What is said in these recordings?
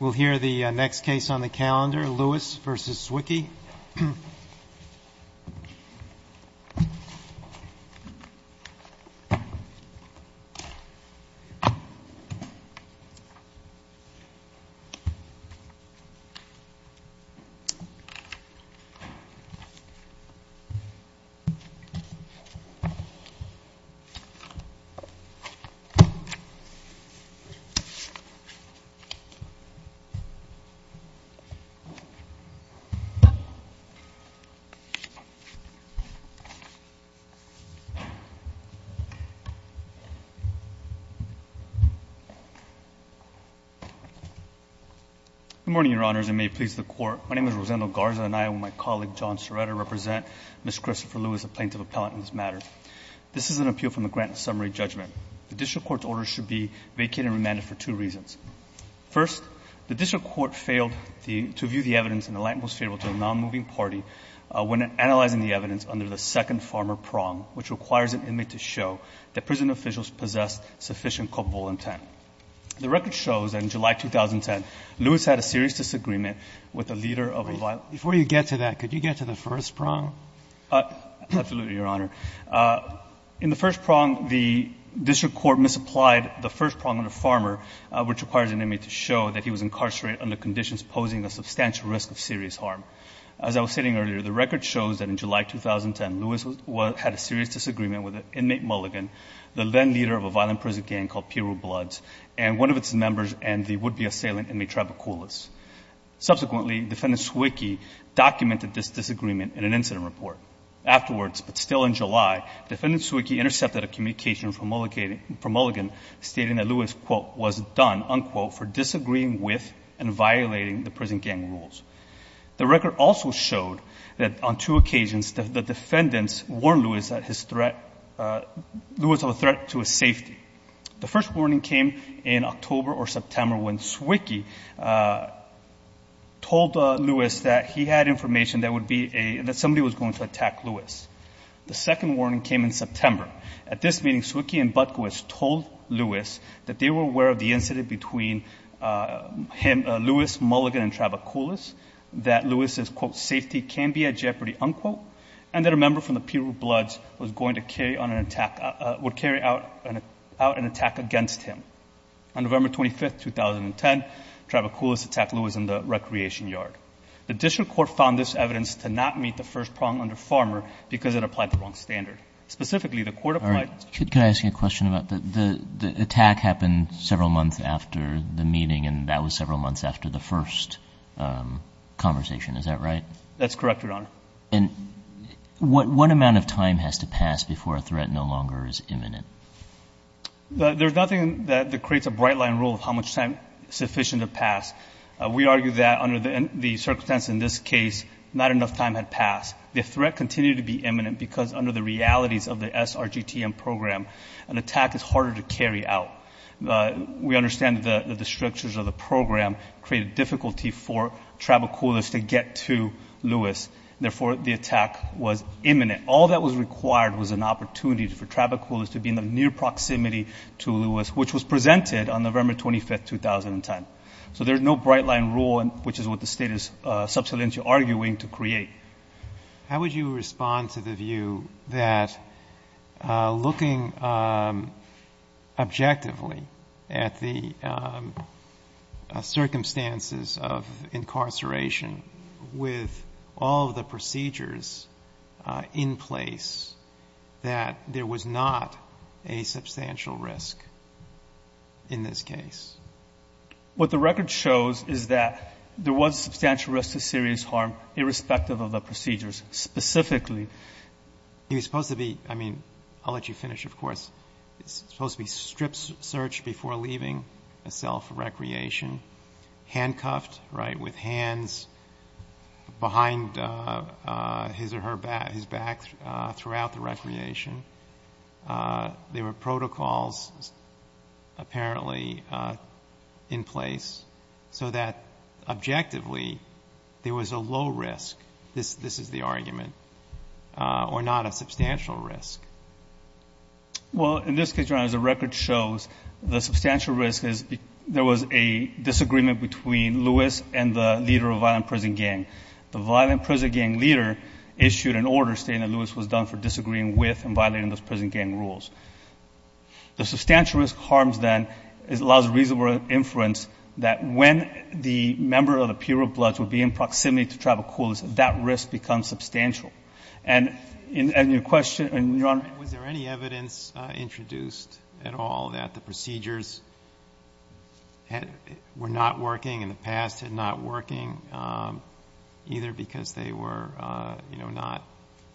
We'll hear the next case on the calendar, Lewis v. Swicki. Rosendo Garza Good morning, Your Honors, and may it please the Court. My name is Rosendo Garza, and I, with my colleague John Serrata, represent Ms. Christopher Lewis, a plaintiff appellant in this matter. This is an appeal from the Grant Summary Judgment. The district court's orders should be vacated and remanded for two reasons. First, the district court failed to view the evidence in the light most favorable to a nonmoving party when analyzing the evidence under the second farmer prong, which requires an inmate to show that prison officials possess sufficient culpable intent. The record shows that in July 2010, Lewis had a serious disagreement with the leader of a violent group. Breyer, before you get to that, could you get to the first prong? Absolutely, Your Honor. In the first prong, the district court misapplied the first prong under farmer, which requires an inmate to show that he was incarcerated under conditions posing a substantial risk of serious harm. As I was stating earlier, the record shows that in July 2010, Lewis had a serious disagreement with an inmate, Mulligan, the then leader of a violent prison gang called Piru Bloods, and one of its members and the would-be assailant, Inmate Trabacoulis. Subsequently, Defendant Zwicky documented this disagreement in an incident report. Afterwards, but still in July, Defendant Zwicky intercepted a communication from Mulligan stating that Lewis, quote, was done, unquote, for disagreeing with and violating the prison gang rules. The record also showed that on two occasions, the defendants warned Lewis of a threat to his safety. The first warning came in October or September when Zwicky told Lewis that he had information that somebody was going to attack Lewis. The second warning came in September. At this meeting, Zwicky and Butkowitz told Lewis that they were aware of the incident between Lewis, Mulligan, and Trabacoulis, that Lewis's, quote, safety can be at jeopardy, unquote, and that a member from the Piru Bloods was going to carry on an attack, would carry out an attack against him. On November 25, 2010, Trabacoulis attacked Lewis in the recreation yard. The district court found this evidence to not meet the first prong under Farmer because it applied the wrong standard. Specifically, the court applied- All right. Could I ask you a question about the attack happened several months after the meeting, and that was several months after the first conversation, is that right? That's correct, Your Honor. And what amount of time has to pass before a threat no longer is imminent? There's nothing that creates a bright-line rule of how much time is sufficient to pass. We argue that under the circumstance in this case, not enough time had passed. The threat continued to be imminent because under the realities of the SRGTM program, an attack is harder to carry out. We understand that the strictures of the program created difficulty for Trabacoulis to get to Lewis. Therefore, the attack was imminent. All that was required was an opportunity for Trabacoulis to be in the near proximity to Lewis, which was presented on November 25, 2010. So there's no bright-line rule, which is what the state is substantially arguing, to create. How would you respond to the view that looking objectively at the circumstances of incarceration, with all of the procedures in place, that there was not a substantial risk in this case? What the record shows is that there was substantial risk to serious harm in this case, irrespective of the procedures. Specifically, he was supposed to be, I mean, I'll let you finish, of course. He was supposed to be strip-searched before leaving a cell for recreation, handcuffed, right, with hands behind his or her back, his back, throughout the recreation. There were protocols apparently in place so that objectively there was a low risk, this is the argument, or not a substantial risk. Well, in this case, Your Honor, as the record shows, the substantial risk is there was a disagreement between Lewis and the leader of Violent Prison Gang. The Violent Prison Gang leader issued an order stating that Lewis was done for disagreeing with and violating those prison gang rules. The substantial risk harms then, it allows reasonable inference that when the member of the Bureau of Bloods would be in proximity to travel coolers, that risk becomes substantial. And in your question, and Your Honor— Was there any evidence introduced at all that the procedures were not working, in the past working, either because they were, you know,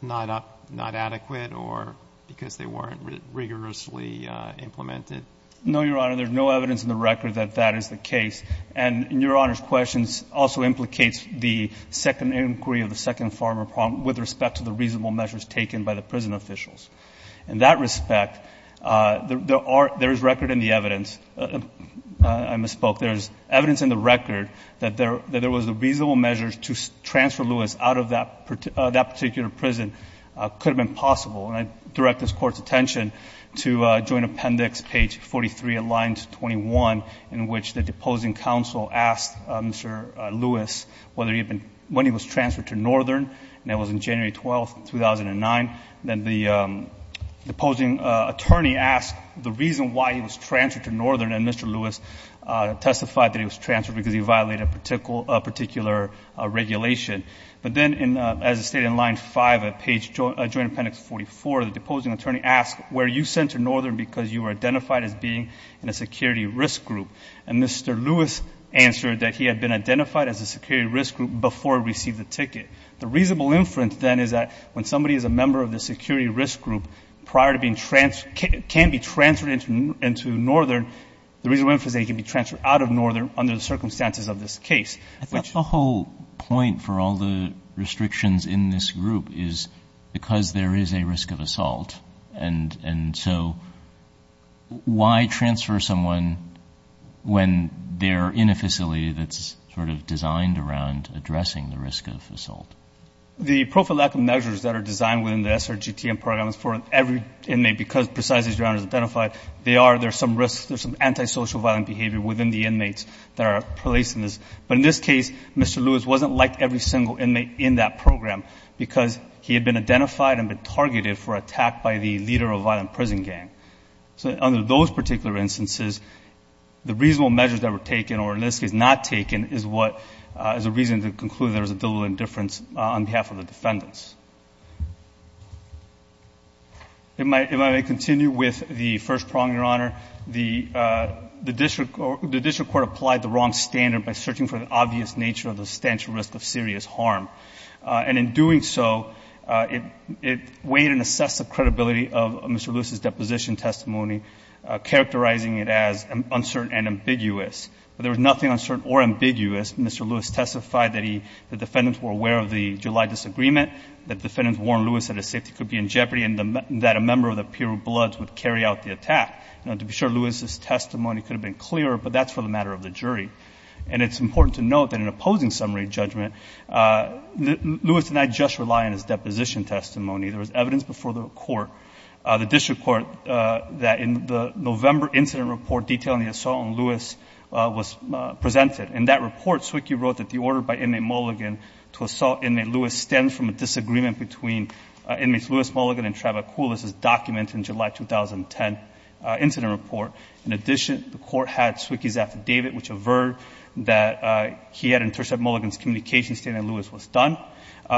not adequate or because they weren't rigorously implemented? No, Your Honor. There's no evidence in the record that that is the case. And Your Honor's question also implicates the second inquiry of the second farmer problem with respect to the reasonable measures taken by the prison officials. In that respect, there is record in the evidence. I misspoke. There's evidence in the record that there was a reasonable measure to transfer Lewis out of that particular prison could have been possible. And I direct this Court's attention to Joint Appendix, page 43, at line 21, in which the deposing counsel asked Mr. Lewis whether he had been — when he was transferred to Northern, and that was on January 12, 2009. Then the deposing attorney asked the reason why he was transferred to Northern, and Mr. Lewis testified that he was transferred because he violated a particular regulation. But then, as stated in line 5 at page — Joint Appendix 44, the deposing attorney asked, were you sent to Northern because you were identified as being in a security risk group? And Mr. Lewis answered that he had been identified as a security risk group before he received the ticket. The reasonable inference, then, is that when somebody is a member of the security risk group, prior to being — can be transferred into Northern, the reasonable inference is that he can be transferred out of Northern under the circumstances of this case, which — But the whole point for all the restrictions in this group is because there is a risk of assault. And so why transfer someone when they're in a facility that's sort of designed around addressing the risk of assault? The prophylactic measures that are designed within the SRGTM program is for every inmate, because precisely as Your Honor has identified, they are — there's some risks, there's some antisocial, violent behavior within the inmates that are placed in this. But in this case, Mr. Lewis wasn't like every single inmate in that program because he had been identified and been targeted for attack by the leader of a violent prison gang. So under those particular instances, the reasonable measures that were taken or the risk is not taken is what — is a reason to conclude there was a difference on behalf of the defendants. If I may continue with the first prong, Your Honor. The district court applied the wrong standard by searching for the obvious nature of the substantial risk of serious harm. And in doing so, it weighed and assessed the credibility of Mr. Lewis's deposition testimony, characterizing it as uncertain and ambiguous. There was nothing uncertain or ambiguous. Mr. Lewis testified that he — the defendants were aware of the July disagreement, that defendants warned Lewis that his safety could be in jeopardy and that a member of the Piru Bloods would carry out the attack. Now, to be sure, Lewis's testimony could have been clearer, but that's for the matter of the jury. And it's important to note that in opposing summary judgment, Lewis did not just rely on his deposition testimony. There was evidence before the court, the district court, that in the November incident report detailing the assault on Lewis was presented. In that report, Zwicky wrote that the order by Inmate Mulligan to assault Inmate Lewis stemmed from a disagreement between Inmates Lewis, Mulligan, and Trevor Kulis, as documented in July 2010 incident report. In addition, the court had Zwicky's affidavit, which averred that he had intercepted Mulligan's communication statement and Lewis was done.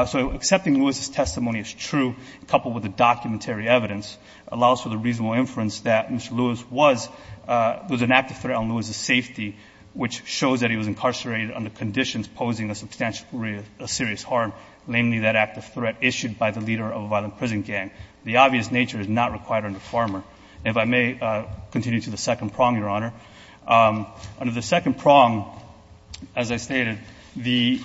So accepting Lewis's testimony as true, coupled with the documentary evidence, allows for the reasonable inference that Mr. Lewis was an active threat on Lewis's safety, which shows that he was incarcerated under conditions posing a substantial serious harm, namely that active threat issued by the leader of a violent prison gang. The obvious nature is not required under Farmer. And if I may continue to the second prong, Your Honor. Under the second prong, as I stated, the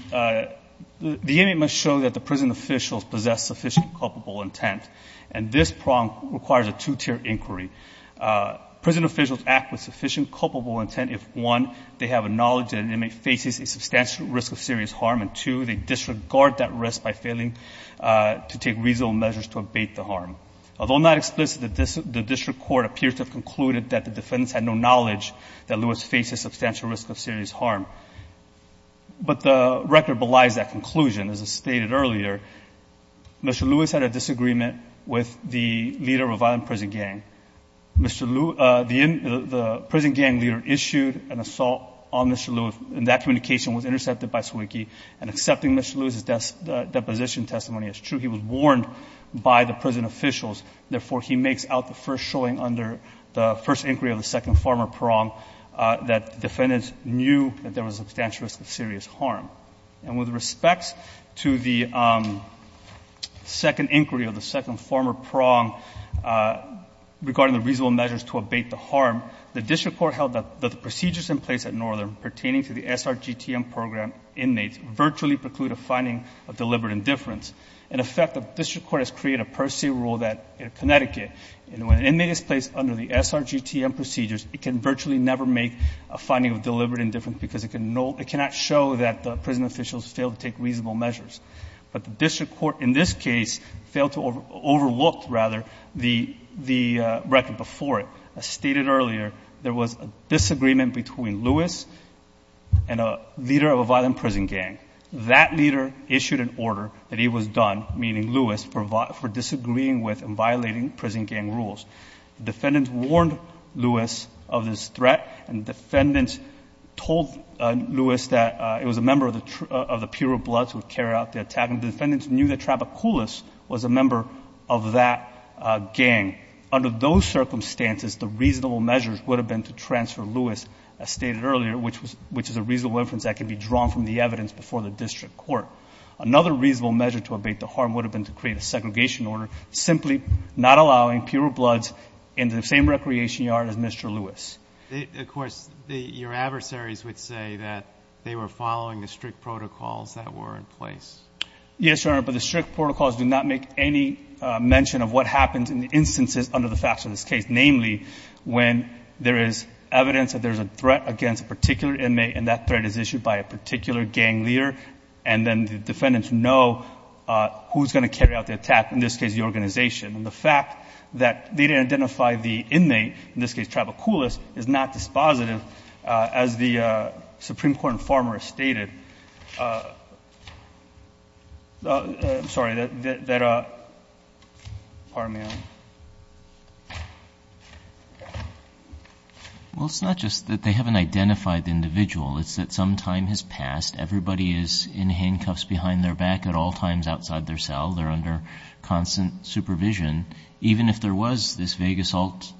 inmate must show that the prison officials possess sufficient culpable intent. And this prong requires a two-tier inquiry. Prison officials act with sufficient culpable intent if, one, they have a knowledge that an inmate faces a substantial risk of serious harm, and, two, they disregard that risk by failing to take reasonable measures to abate the harm. Although not explicit, the district court appears to have concluded that the defendants had no knowledge that Lewis faced a substantial risk of serious harm. But the record belies that conclusion. As I stated earlier, Mr. Lewis had a disagreement with the leader of a violent prison gang. The prison gang leader issued an assault on Mr. Lewis, and that communication was intercepted by Sawicki. And accepting Mr. Lewis's deposition testimony as true, he was warned by the prison officials. Therefore, he makes out the first showing under the first inquiry of the second Farmer prong that the defendants knew that there was a substantial risk of serious harm. And with respects to the second inquiry of the second Farmer prong regarding the reasonable measures to abate the harm, the district court held that the procedures in place at Northern pertaining to the SRGTM program inmates virtually preclude a finding of deliberate indifference. In effect, the district court has created a per se rule that in Connecticut, when an inmate is placed under the SRGTM procedures, it can virtually never make a case that the prison officials fail to take reasonable measures. But the district court in this case failed to overlook, rather, the record before it. As stated earlier, there was a disagreement between Lewis and a leader of a violent prison gang. That leader issued an order that he was done, meaning Lewis, for disagreeing with and violating prison gang rules. The defendants warned Lewis of this threat, and the defendants told Lewis that it was a member of the Pure Bloods who carried out the attack. And the defendants knew that Trapakoulis was a member of that gang. Under those circumstances, the reasonable measures would have been to transfer Lewis, as stated earlier, which is a reasonable inference that can be drawn from the evidence before the district court. Another reasonable measure to abate the harm would have been to create a segregation order, simply not allowing Pure Bloods in the same recreation yard as Mr. Lewis. Of course, your adversaries would say that they were following the strict protocols that were in place. Yes, Your Honor, but the strict protocols do not make any mention of what happens in the instances under the facts of this case. Namely, when there is evidence that there's a threat against a particular inmate, and that threat is issued by a particular gang leader, and then the defendants know who's going to carry out the attack, in this case, the organization. And the fact that they didn't identify the inmate, in this case, Trapakoulis, is not dispositive, as the Supreme Court informer stated. I'm sorry, that, pardon me, Your Honor. Well, it's not just that they haven't identified the individual. It's that some time has passed. Everybody is in handcuffs behind their back at all times outside their cell. They're under constant supervision. Even if there was this vague assault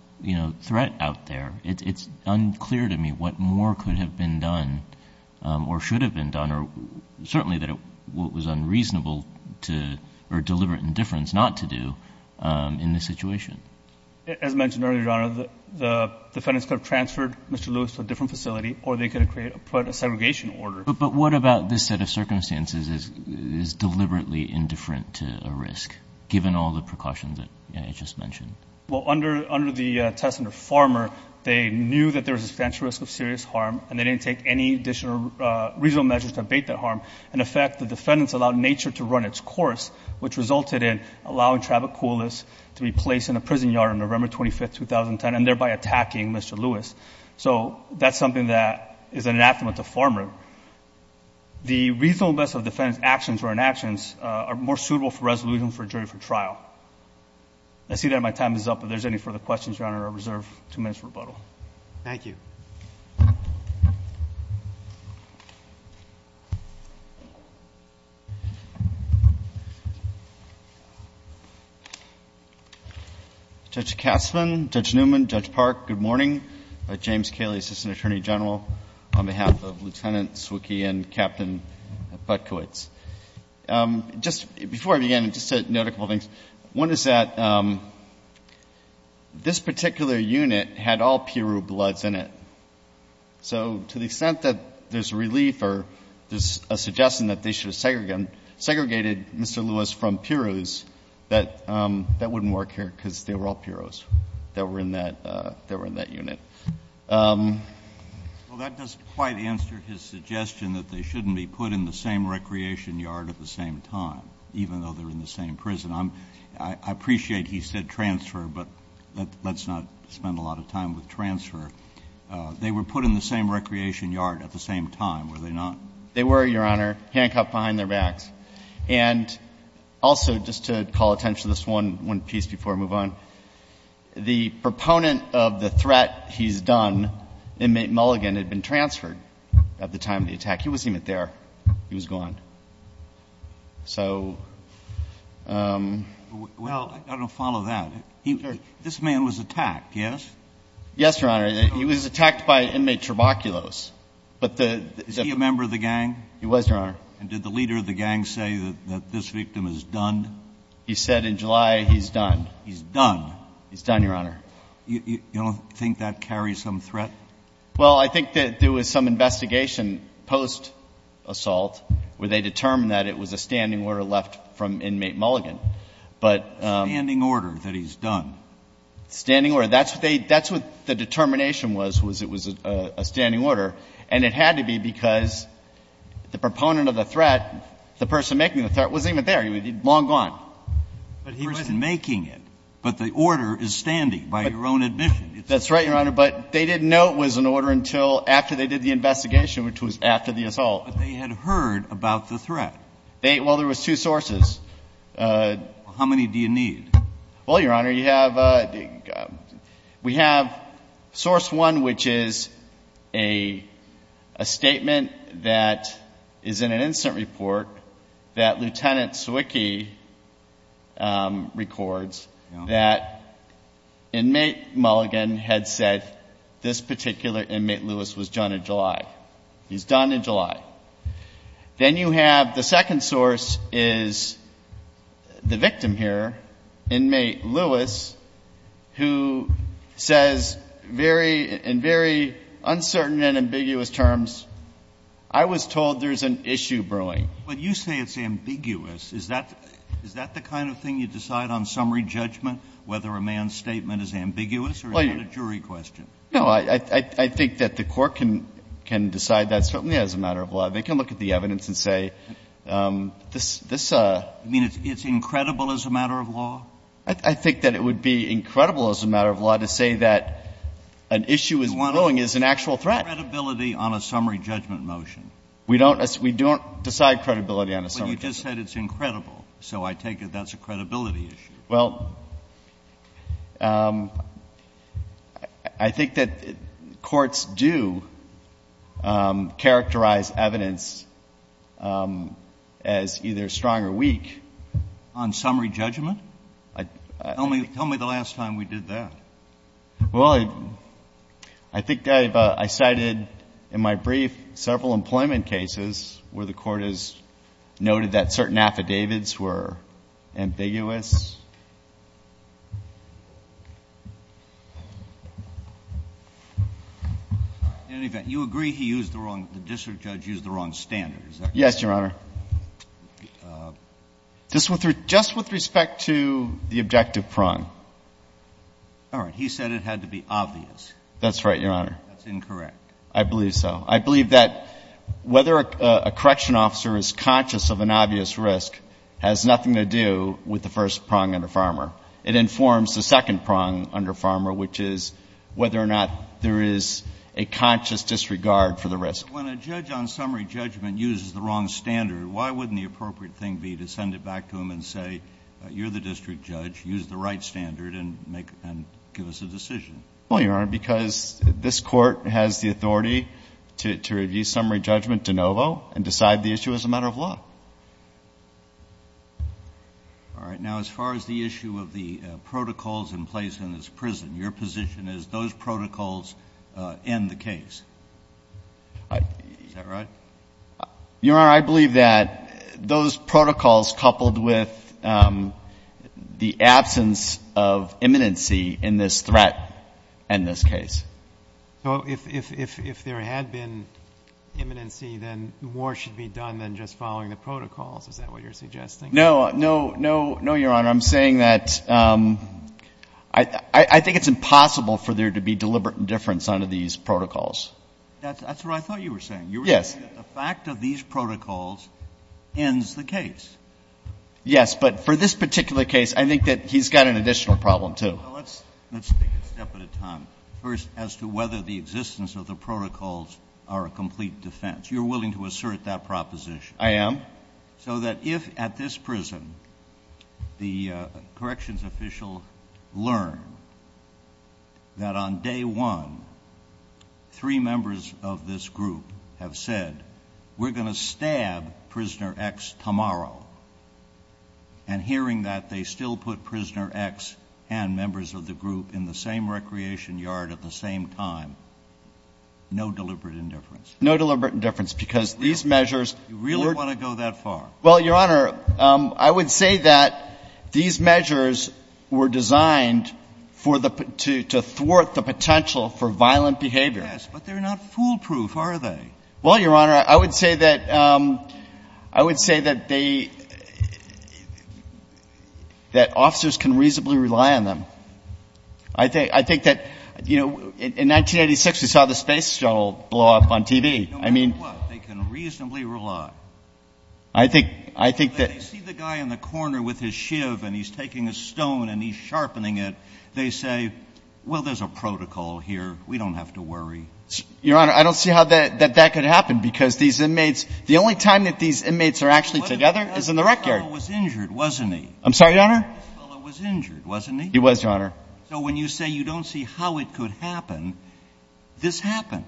threat out there, it's unclear to me what more could have been done, or should have been done, or certainly what was unreasonable to, or deliberate indifference not to do, in this situation. As mentioned earlier, Your Honor, the defendants could have transferred Mr. Lewis to a different facility, or they could have put a segregation order. But what about this set of circumstances is deliberately indifferent to a risk, given all the precautions that you just mentioned? Well, under the test under Farmer, they knew that there was a substantial risk of serious harm, and they didn't take any additional reasonable measures to abate that harm. In effect, the defendants allowed nature to run its course, which resulted in allowing Trapakoulis to be placed in a prison yard on November 25, 2010, and thereby attacking Mr. Lewis. So that's something that is an anathema to Farmer. The reasonable best of defendants' actions or inactions are more suitable for resolution for jury for trial. I see that my time is up. If there's any further questions, Your Honor, I reserve two minutes for rebuttal. Thank you. Judge Katzmann, Judge Newman, Judge Park, good morning. James Cayley, Assistant Attorney General, on behalf of Lieutenant Zwicky and Captain Butkowitz. Just before I begin, just to note a couple of things. One is that this particular unit had all Piru bloods in it. So to the extent that there's relief or there's a suggestion that they should have segregated Mr. Lewis from Pirus, that wouldn't work here, because they were all Pirus that were in that unit. Well, that doesn't quite answer his suggestion that they shouldn't be put in the same recreation yard at the same time, even though they're in the same prison. I appreciate he said transfer, but let's not spend a lot of time with transfer. They were put in the same recreation yard at the same time, were they not? They were, Your Honor, handcuffed behind their backs. And also, just to call attention to this one piece before I move on, the proponent of the threat, he's done, inmate Mulligan, had been transferred at the time of the attack. He wasn't even there. He was gone. So — Well, I'm going to follow that. This man was attacked, yes? Yes, Your Honor. He was attacked by inmate Traboculos, but the — Is he a member of the gang? He was, Your Honor. And did the leader of the gang say that this victim is done? He said in July he's done. He's done. He's done, Your Honor. You don't think that carries some threat? Well, I think that there was some investigation post-assault where they determined that it was a standing order left from inmate Mulligan. But — A standing order that he's done. Standing order. That's what they — that's what the determination was, was it was a standing order. And it had to be because the proponent of the threat, the person making the threat, wasn't even there. He was long gone. But he wasn't making it. But the order is standing, by your own admission. That's right, Your Honor. But they didn't know it was an order until after they did the investigation, which was after the assault. But they had heard about the threat. They — well, there was two sources. How many do you need? Well, Your Honor, you have — we have source one, which is a statement that is in an recent report that Lieutenant Zwicky records that inmate Mulligan had said this particular inmate, Lewis, was done in July. He's done in July. Then you have — the second source is the victim here, inmate Lewis, who says very — in very uncertain and ambiguous terms, I was told there's an issue brewing. But you say it's ambiguous. Is that — is that the kind of thing you decide on summary judgment, whether a man's statement is ambiguous or is that a jury question? No. I think that the court can — can decide that certainly as a matter of law. They can look at the evidence and say, this — this — You mean it's incredible as a matter of law? I think that it would be incredible as a matter of law to say that an issue is — That's what I'm —— brewing is an actual threat. — credibility on a summary judgment motion. We don't — we don't decide credibility on a summary judgment. But you just said it's incredible. So I take it that's a credibility issue. Well, I think that courts do characterize evidence as either strong or weak. On summary judgment? Tell me — tell me the last time we did that. Well, I — I think I've — I cited in my brief several employment cases where the court has noted that certain affidavits were ambiguous. In any event, you agree he used the wrong — the district judge used the wrong standard. Is that correct? Yes, Your Honor. Just with — just with respect to the objective prong. All right. He said it had to be obvious. That's right, Your Honor. That's incorrect. I believe so. I believe that whether a correction officer is conscious of an obvious risk has nothing to do with the first prong under Farmer. It informs the second prong under Farmer, which is whether or not there is a conscious disregard for the risk. But when a judge on summary judgment uses the wrong standard, why wouldn't the appropriate thing be to send it back to him and say, you're the district judge, use the right standard and make — and give us a decision? Well, Your Honor, because this court has the authority to review summary judgment de novo and decide the issue as a matter of law. All right. Now, as far as the issue of the protocols in place in this prison, your position is those protocols end the case. Is that right? Your Honor, I believe that those protocols coupled with the absence of imminency in this threat end this case. So if there had been imminency, then more should be done than just following the protocols. Is that what you're suggesting? No, no, no, no, Your Honor. I'm saying that I think it's impossible for there to be deliberate indifference under these protocols. That's what I thought you were saying. The fact of these protocols ends the case. Yes, but for this particular case, I think that he's got an additional problem, too. So let's take it a step at a time. First, as to whether the existence of the protocols are a complete defense. You're willing to assert that proposition? I am. So that if at this prison the corrections official learned that on day one, three members of this group have said, we're going to stab prisoner X tomorrow. And hearing that they still put prisoner X and members of the group in the same recreation yard at the same time. No deliberate indifference. No deliberate indifference because these measures. You really want to go that far? Well, Your Honor, I would say that these measures were designed to thwart the potential for violent behavior. Yes, but they're not foolproof, are they? Well, Your Honor, I would say that officers can reasonably rely on them. I think that, you know, in 1986, we saw the space shuttle blow up on TV. No matter what, they can reasonably rely. I think that. When they see the guy in the corner with his shiv and he's taking a stone and he's And if it's not a violation of a protocol, here, we don't have to worry. Your Honor, I don't see how that could happen, because these inmates, the only time that these inmates are actually together is in the rec yard. This fellow was injured, wasn't he? I'm sorry, Your Honor? This fellow was injured, wasn't he? He was, Your Honor. So when you say you don't see how it could happen, this happened.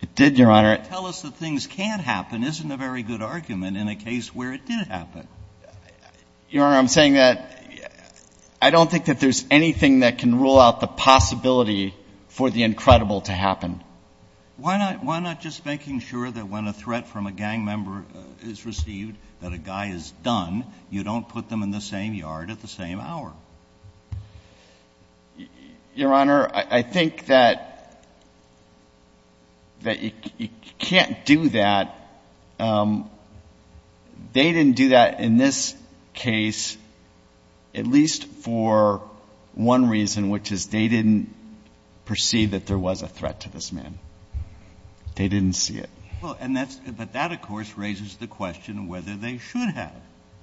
It did, Your Honor. But to tell us that things can't happen isn't a very good argument in a case where it did happen. Your Honor, I'm saying that I don't think that there's anything that can rule out the possibility for the incredible to happen. Why not just making sure that when a threat from a gang member is received, that a guy is done, you don't put them in the same yard at the same hour? Your Honor, I think that you can't do that. They didn't do that in this case, at least for one reason, which is they didn't perceive that there was a threat to this man. They didn't see it. Well, and that's the question, but that, of course, raises the question whether they should have.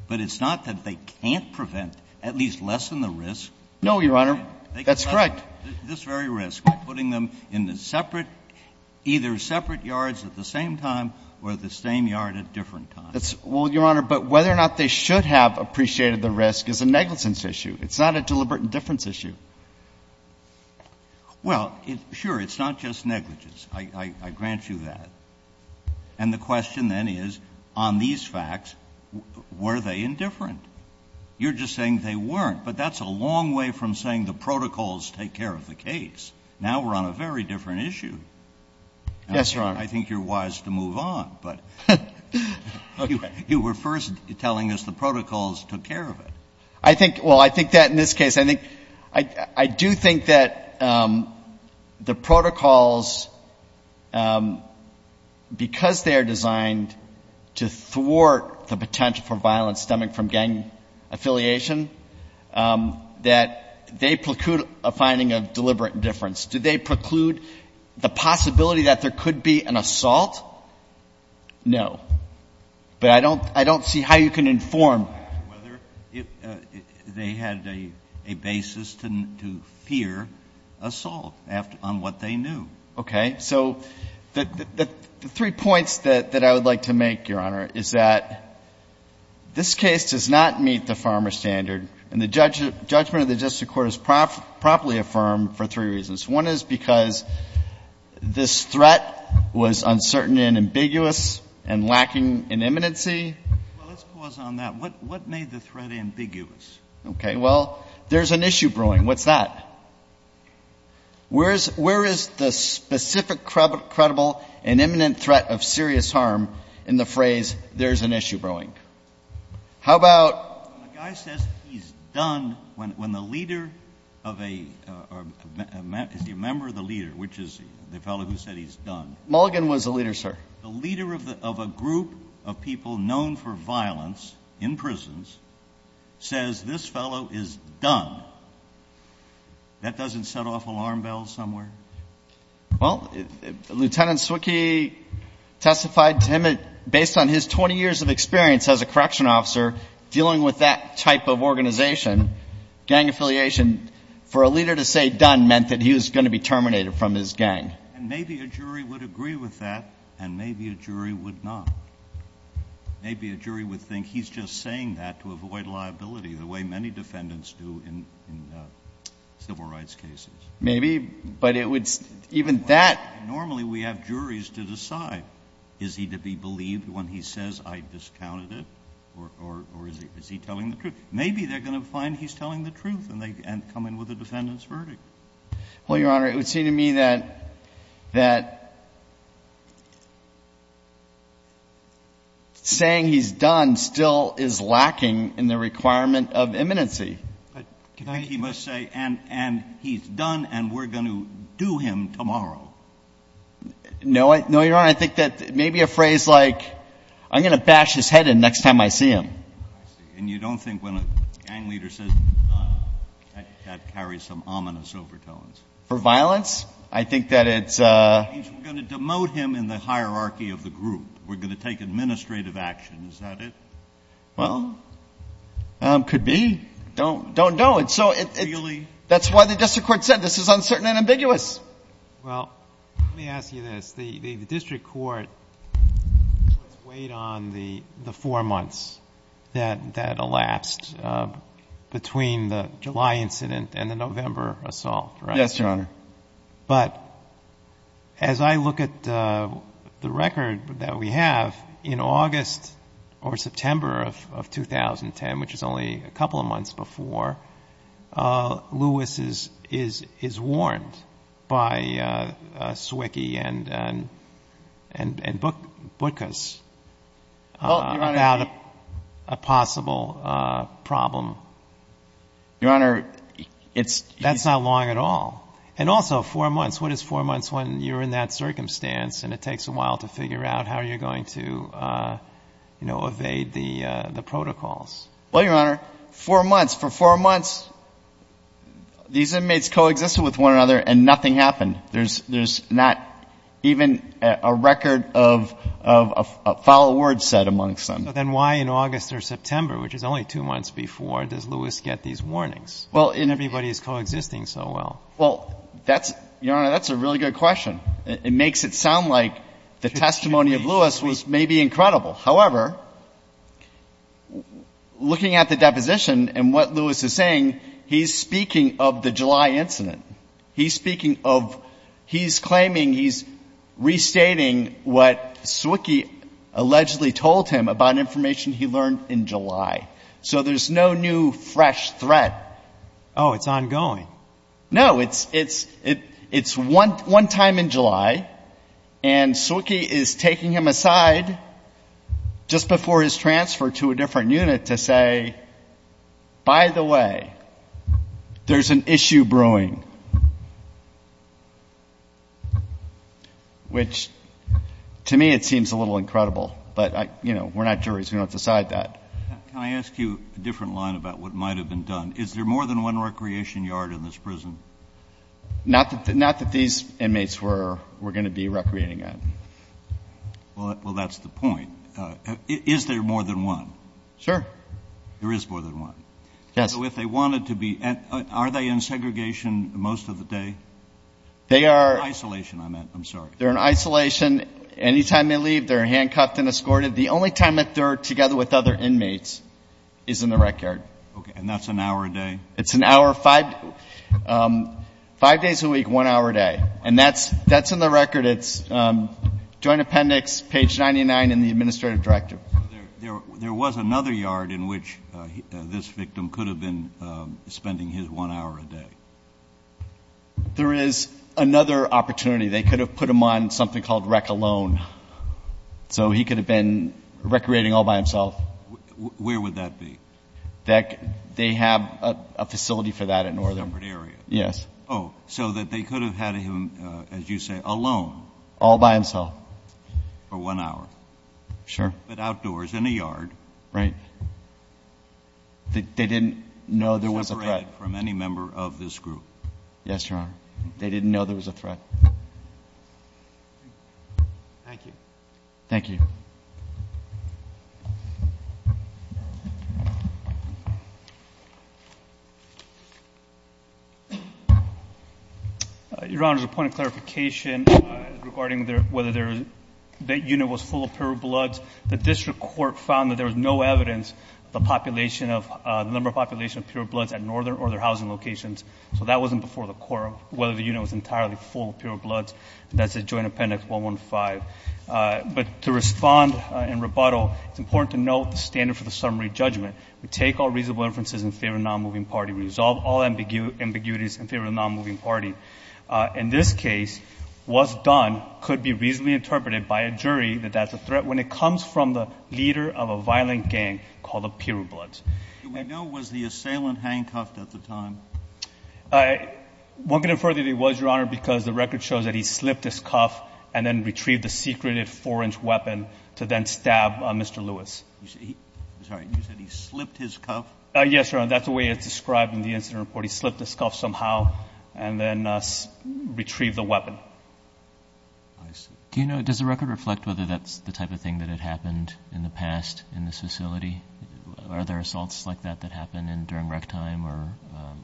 But it's not that they can't prevent, at least lessen the risk. No, Your Honor. That's correct. This very risk, putting them in either separate yards at the same time or the same yard at different times. Well, Your Honor, but whether or not they should have appreciated the risk is a negligence issue. It's not a deliberate indifference issue. Well, sure, it's not just negligence. I grant you that. And the question then is, on these facts, were they indifferent? You're just saying they weren't, but that's a long way from saying the protocols take care of the case. Now we're on a very different issue. Yes, Your Honor. I think you're wise to move on, but you were first telling us the protocols took care of it. I think, well, I think that in this case, I think, I do think that the protocols, because they are designed to thwart the potential for violence stemming from gang affiliation, that they preclude a finding of deliberate indifference. Do they preclude the possibility that there could be an assault? No. But I don't see how you can inform. Whether they had a basis to fear assault on what they knew. Okay. So the three points that I would like to make, Your Honor, is that this case does not meet the farmer standard, and the judgment of the district court is promptly affirmed for three reasons. One is because this threat was uncertain and ambiguous and lacking in immanency. Well, let's pause on that. What made the threat ambiguous? Okay. Well, there's an issue brewing. What's that? Where is the specific, credible, and imminent threat of serious harm in the phrase there's an issue brewing? How about? The guy says he's done when the leader of a member of the leader, which is the fellow who said he's done. Mulligan was the leader, sir. The leader of a group of people known for violence in prisons says this fellow is done. That doesn't set off alarm bells somewhere. Well, Lieutenant Zwicky testified to him based on his 20 years of experience as a So, dealing with that type of organization, gang affiliation, for a leader to say done meant that he was going to be terminated from his gang. And maybe a jury would agree with that, and maybe a jury would not. Maybe a jury would think he's just saying that to avoid liability, the way many defendants do in civil rights cases. Maybe, but it would, even that. Normally, we have juries to decide, is he to be believed when he says I discounted or, or, or is he, is he telling the truth? Maybe they're going to find he's telling the truth and they come in with a defendant's verdict. Well, Your Honor, it would seem to me that, that saying he's done still is lacking in the requirement of imminency. But he must say, and, and he's done and we're going to do him tomorrow. No, no, Your Honor. I think that maybe a phrase like, I'm going to bash his head in next time I see him. I see. And you don't think when a gang leader says he's done, that carries some ominous overtones? For violence? I think that it's It means we're going to demote him in the hierarchy of the group. We're going to take administrative action. Is that it? Well, could be. Don't, don't know. It's so Really? That's why the district court said this is uncertain and ambiguous. Well, let me ask you this. The, the, the district court weighed on the, the four months that, that elapsed between the July incident and the November assault, right? Yes, Your Honor. But as I look at the record that we have in August or September of, of 2010, which is only a couple of months before, Lewis is, is, is warned by Swickey and, and, and, and Butkus about a possible problem. Your Honor, it's That's not long at all. And also four months. What is four months when you're in that circumstance and it takes a while to figure out how you're going to, you know, evade the, the protocols? Well, Your Honor, four months, for four months, these inmates coexisted with one another and nothing happened. There's, there's not even a record of, of a foul word said amongst them. But then why in August or September, which is only two months before, does Lewis get these warnings? Well, and Everybody is coexisting so well. Well, that's, Your Honor, that's a really good question. It makes it sound like the testimony of Lewis was maybe incredible. However, looking at the deposition and what Lewis is saying, he's speaking of the July incident. He's speaking of, he's claiming, he's restating what Swickey allegedly told him about information he learned in July. So there's no new fresh threat. Oh, it's ongoing. No, it's, it's, it, it's one, one time in July and Swickey is taking him aside just before his transfer to a different unit to say, by the way, there's an issue brewing. Which to me, it seems a little incredible, but I, you know, we're not juries. We don't decide that. Can I ask you a different line about what might've been done? Is there more than one recreation yard in this prison? Not that these inmates were, were going to be recreating at. Well, that's the point. Is there more than one? Sure. There is more than one? Yes. So if they wanted to be, are they in segregation most of the day? They are. Isolation, I meant. I'm sorry. They're in isolation. Anytime they leave, they're handcuffed and escorted. The only time that they're together with other inmates is in the rec yard. Okay. And that's an hour a day? It's an hour, five, five days a week, one hour a day. And that's, that's in the record. It's joint appendix page 99 in the administrative directive. There was another yard in which this victim could have been spending his one hour a day. There is another opportunity. They could have put him on something called rec alone. So he could have been recreating all by himself. Where would that be? That they have a facility for that at Northern. Separate area. Yes. Oh, so that they could have had him, as you say, alone. All by himself. For one hour. Sure. But outdoors in a yard. Right. They didn't know there was a threat. Separated from any member of this group. Yes, Your Honor. They didn't know there was a threat. Thank you. Thank you. Your Honor, there's a point of clarification regarding whether that unit was full of pure bloods. The district court found that there was no evidence of the number of population of pure bloods at Northern or their housing locations. So that wasn't before the court, whether the unit was entirely full of pure bloods. That's a joint appendix 115. But to respond in rebuttal, it's important to note the standard for the summary judgment. Take all reasonable inferences in favor of the nonmoving party. Resolve all ambiguities in favor of the nonmoving party. In this case, what's done could be reasonably interpreted by a jury that that's a threat when it comes from the leader of a violent gang called the pure bloods. Do we know was the assailant handcuffed at the time? Won't get in further than he was, Your Honor, because the record shows that he slipped his cuff and then retrieved the secreted four-inch weapon to then stab Mr. Lewis. Sorry, you said he slipped his cuff? Yes, Your Honor. That's the way it's described in the incident report. He slipped his cuff somehow and then retrieved the weapon. Do you know, does the record reflect whether that's the type of thing that had happened in the past in this facility? Are there assaults like that that happen during rec time or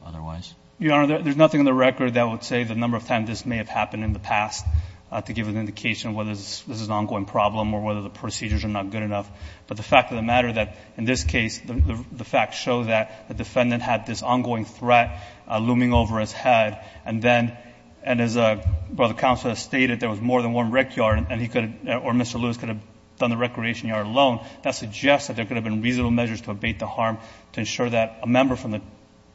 otherwise? Your Honor, there's nothing in the record that would say the number of times this may have happened in the past to give an indication whether this is an ongoing problem or whether the procedures are not good enough. But the fact of the matter that in this case, the facts show that the defendant had this ongoing threat looming over his head. And then, and as Brother Counsel has stated, there was more than one rec yard and he could or Mr. Lewis could have done the recreation yard alone. That suggests that there could have been reasonable measures to abate the harm to ensure that a member from the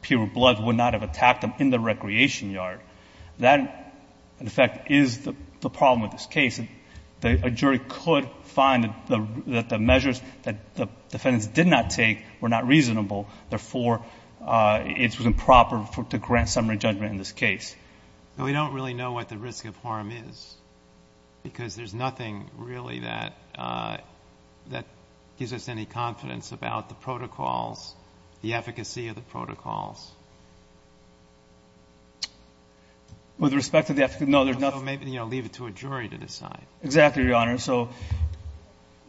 pure bloods would not have attacked him in the recreation yard. That, in fact, is the problem with this case. A jury could find that the measures that the defendants did not take were not reasonable. Therefore, it was improper to grant summary judgment in this case. But we don't really know what the risk of harm is because there's nothing really that gives us any confidence about the protocols, the efficacy of the protocols. With respect to the efficacy, no, there's nothing. So maybe, you know, leave it to a jury to decide. Exactly, Your Honor. So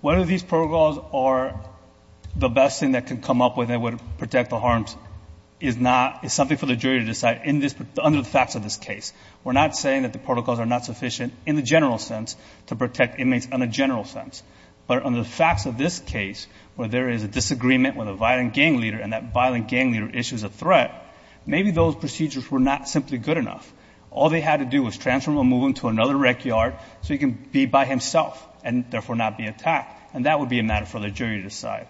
whether these protocols are the best thing that can come up when they would protect the harms is not, is something for the jury to decide in this, under the facts of this case. We're not saying that the protocols are not sufficient in the general sense to protect inmates in a general sense. But on the facts of this case, where there is a disagreement with a violent gang leader and that violent gang leader issues a threat, maybe those procedures were not simply good enough. All they had to do was transfer him or move him to another rec yard so he can be by himself and therefore not be attacked. And that would be a matter for the jury to decide.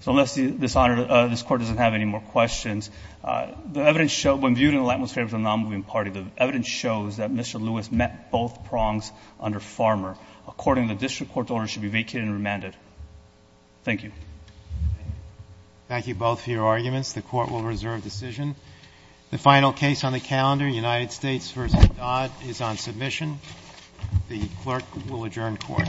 So unless this Honor, this Court doesn't have any more questions, the evidence showed, when viewed in the light most favorable to the non-moving party, the evidence shows that Mr. Lewis met both prongs under Farmer. According to the district court's order, he should be vacated and remanded. Thank you. Thank you both for your arguments. The Court will reserve decision. The final case on the calendar, United States v. Dodd, is on submission. The clerk will adjourn court. Thank you.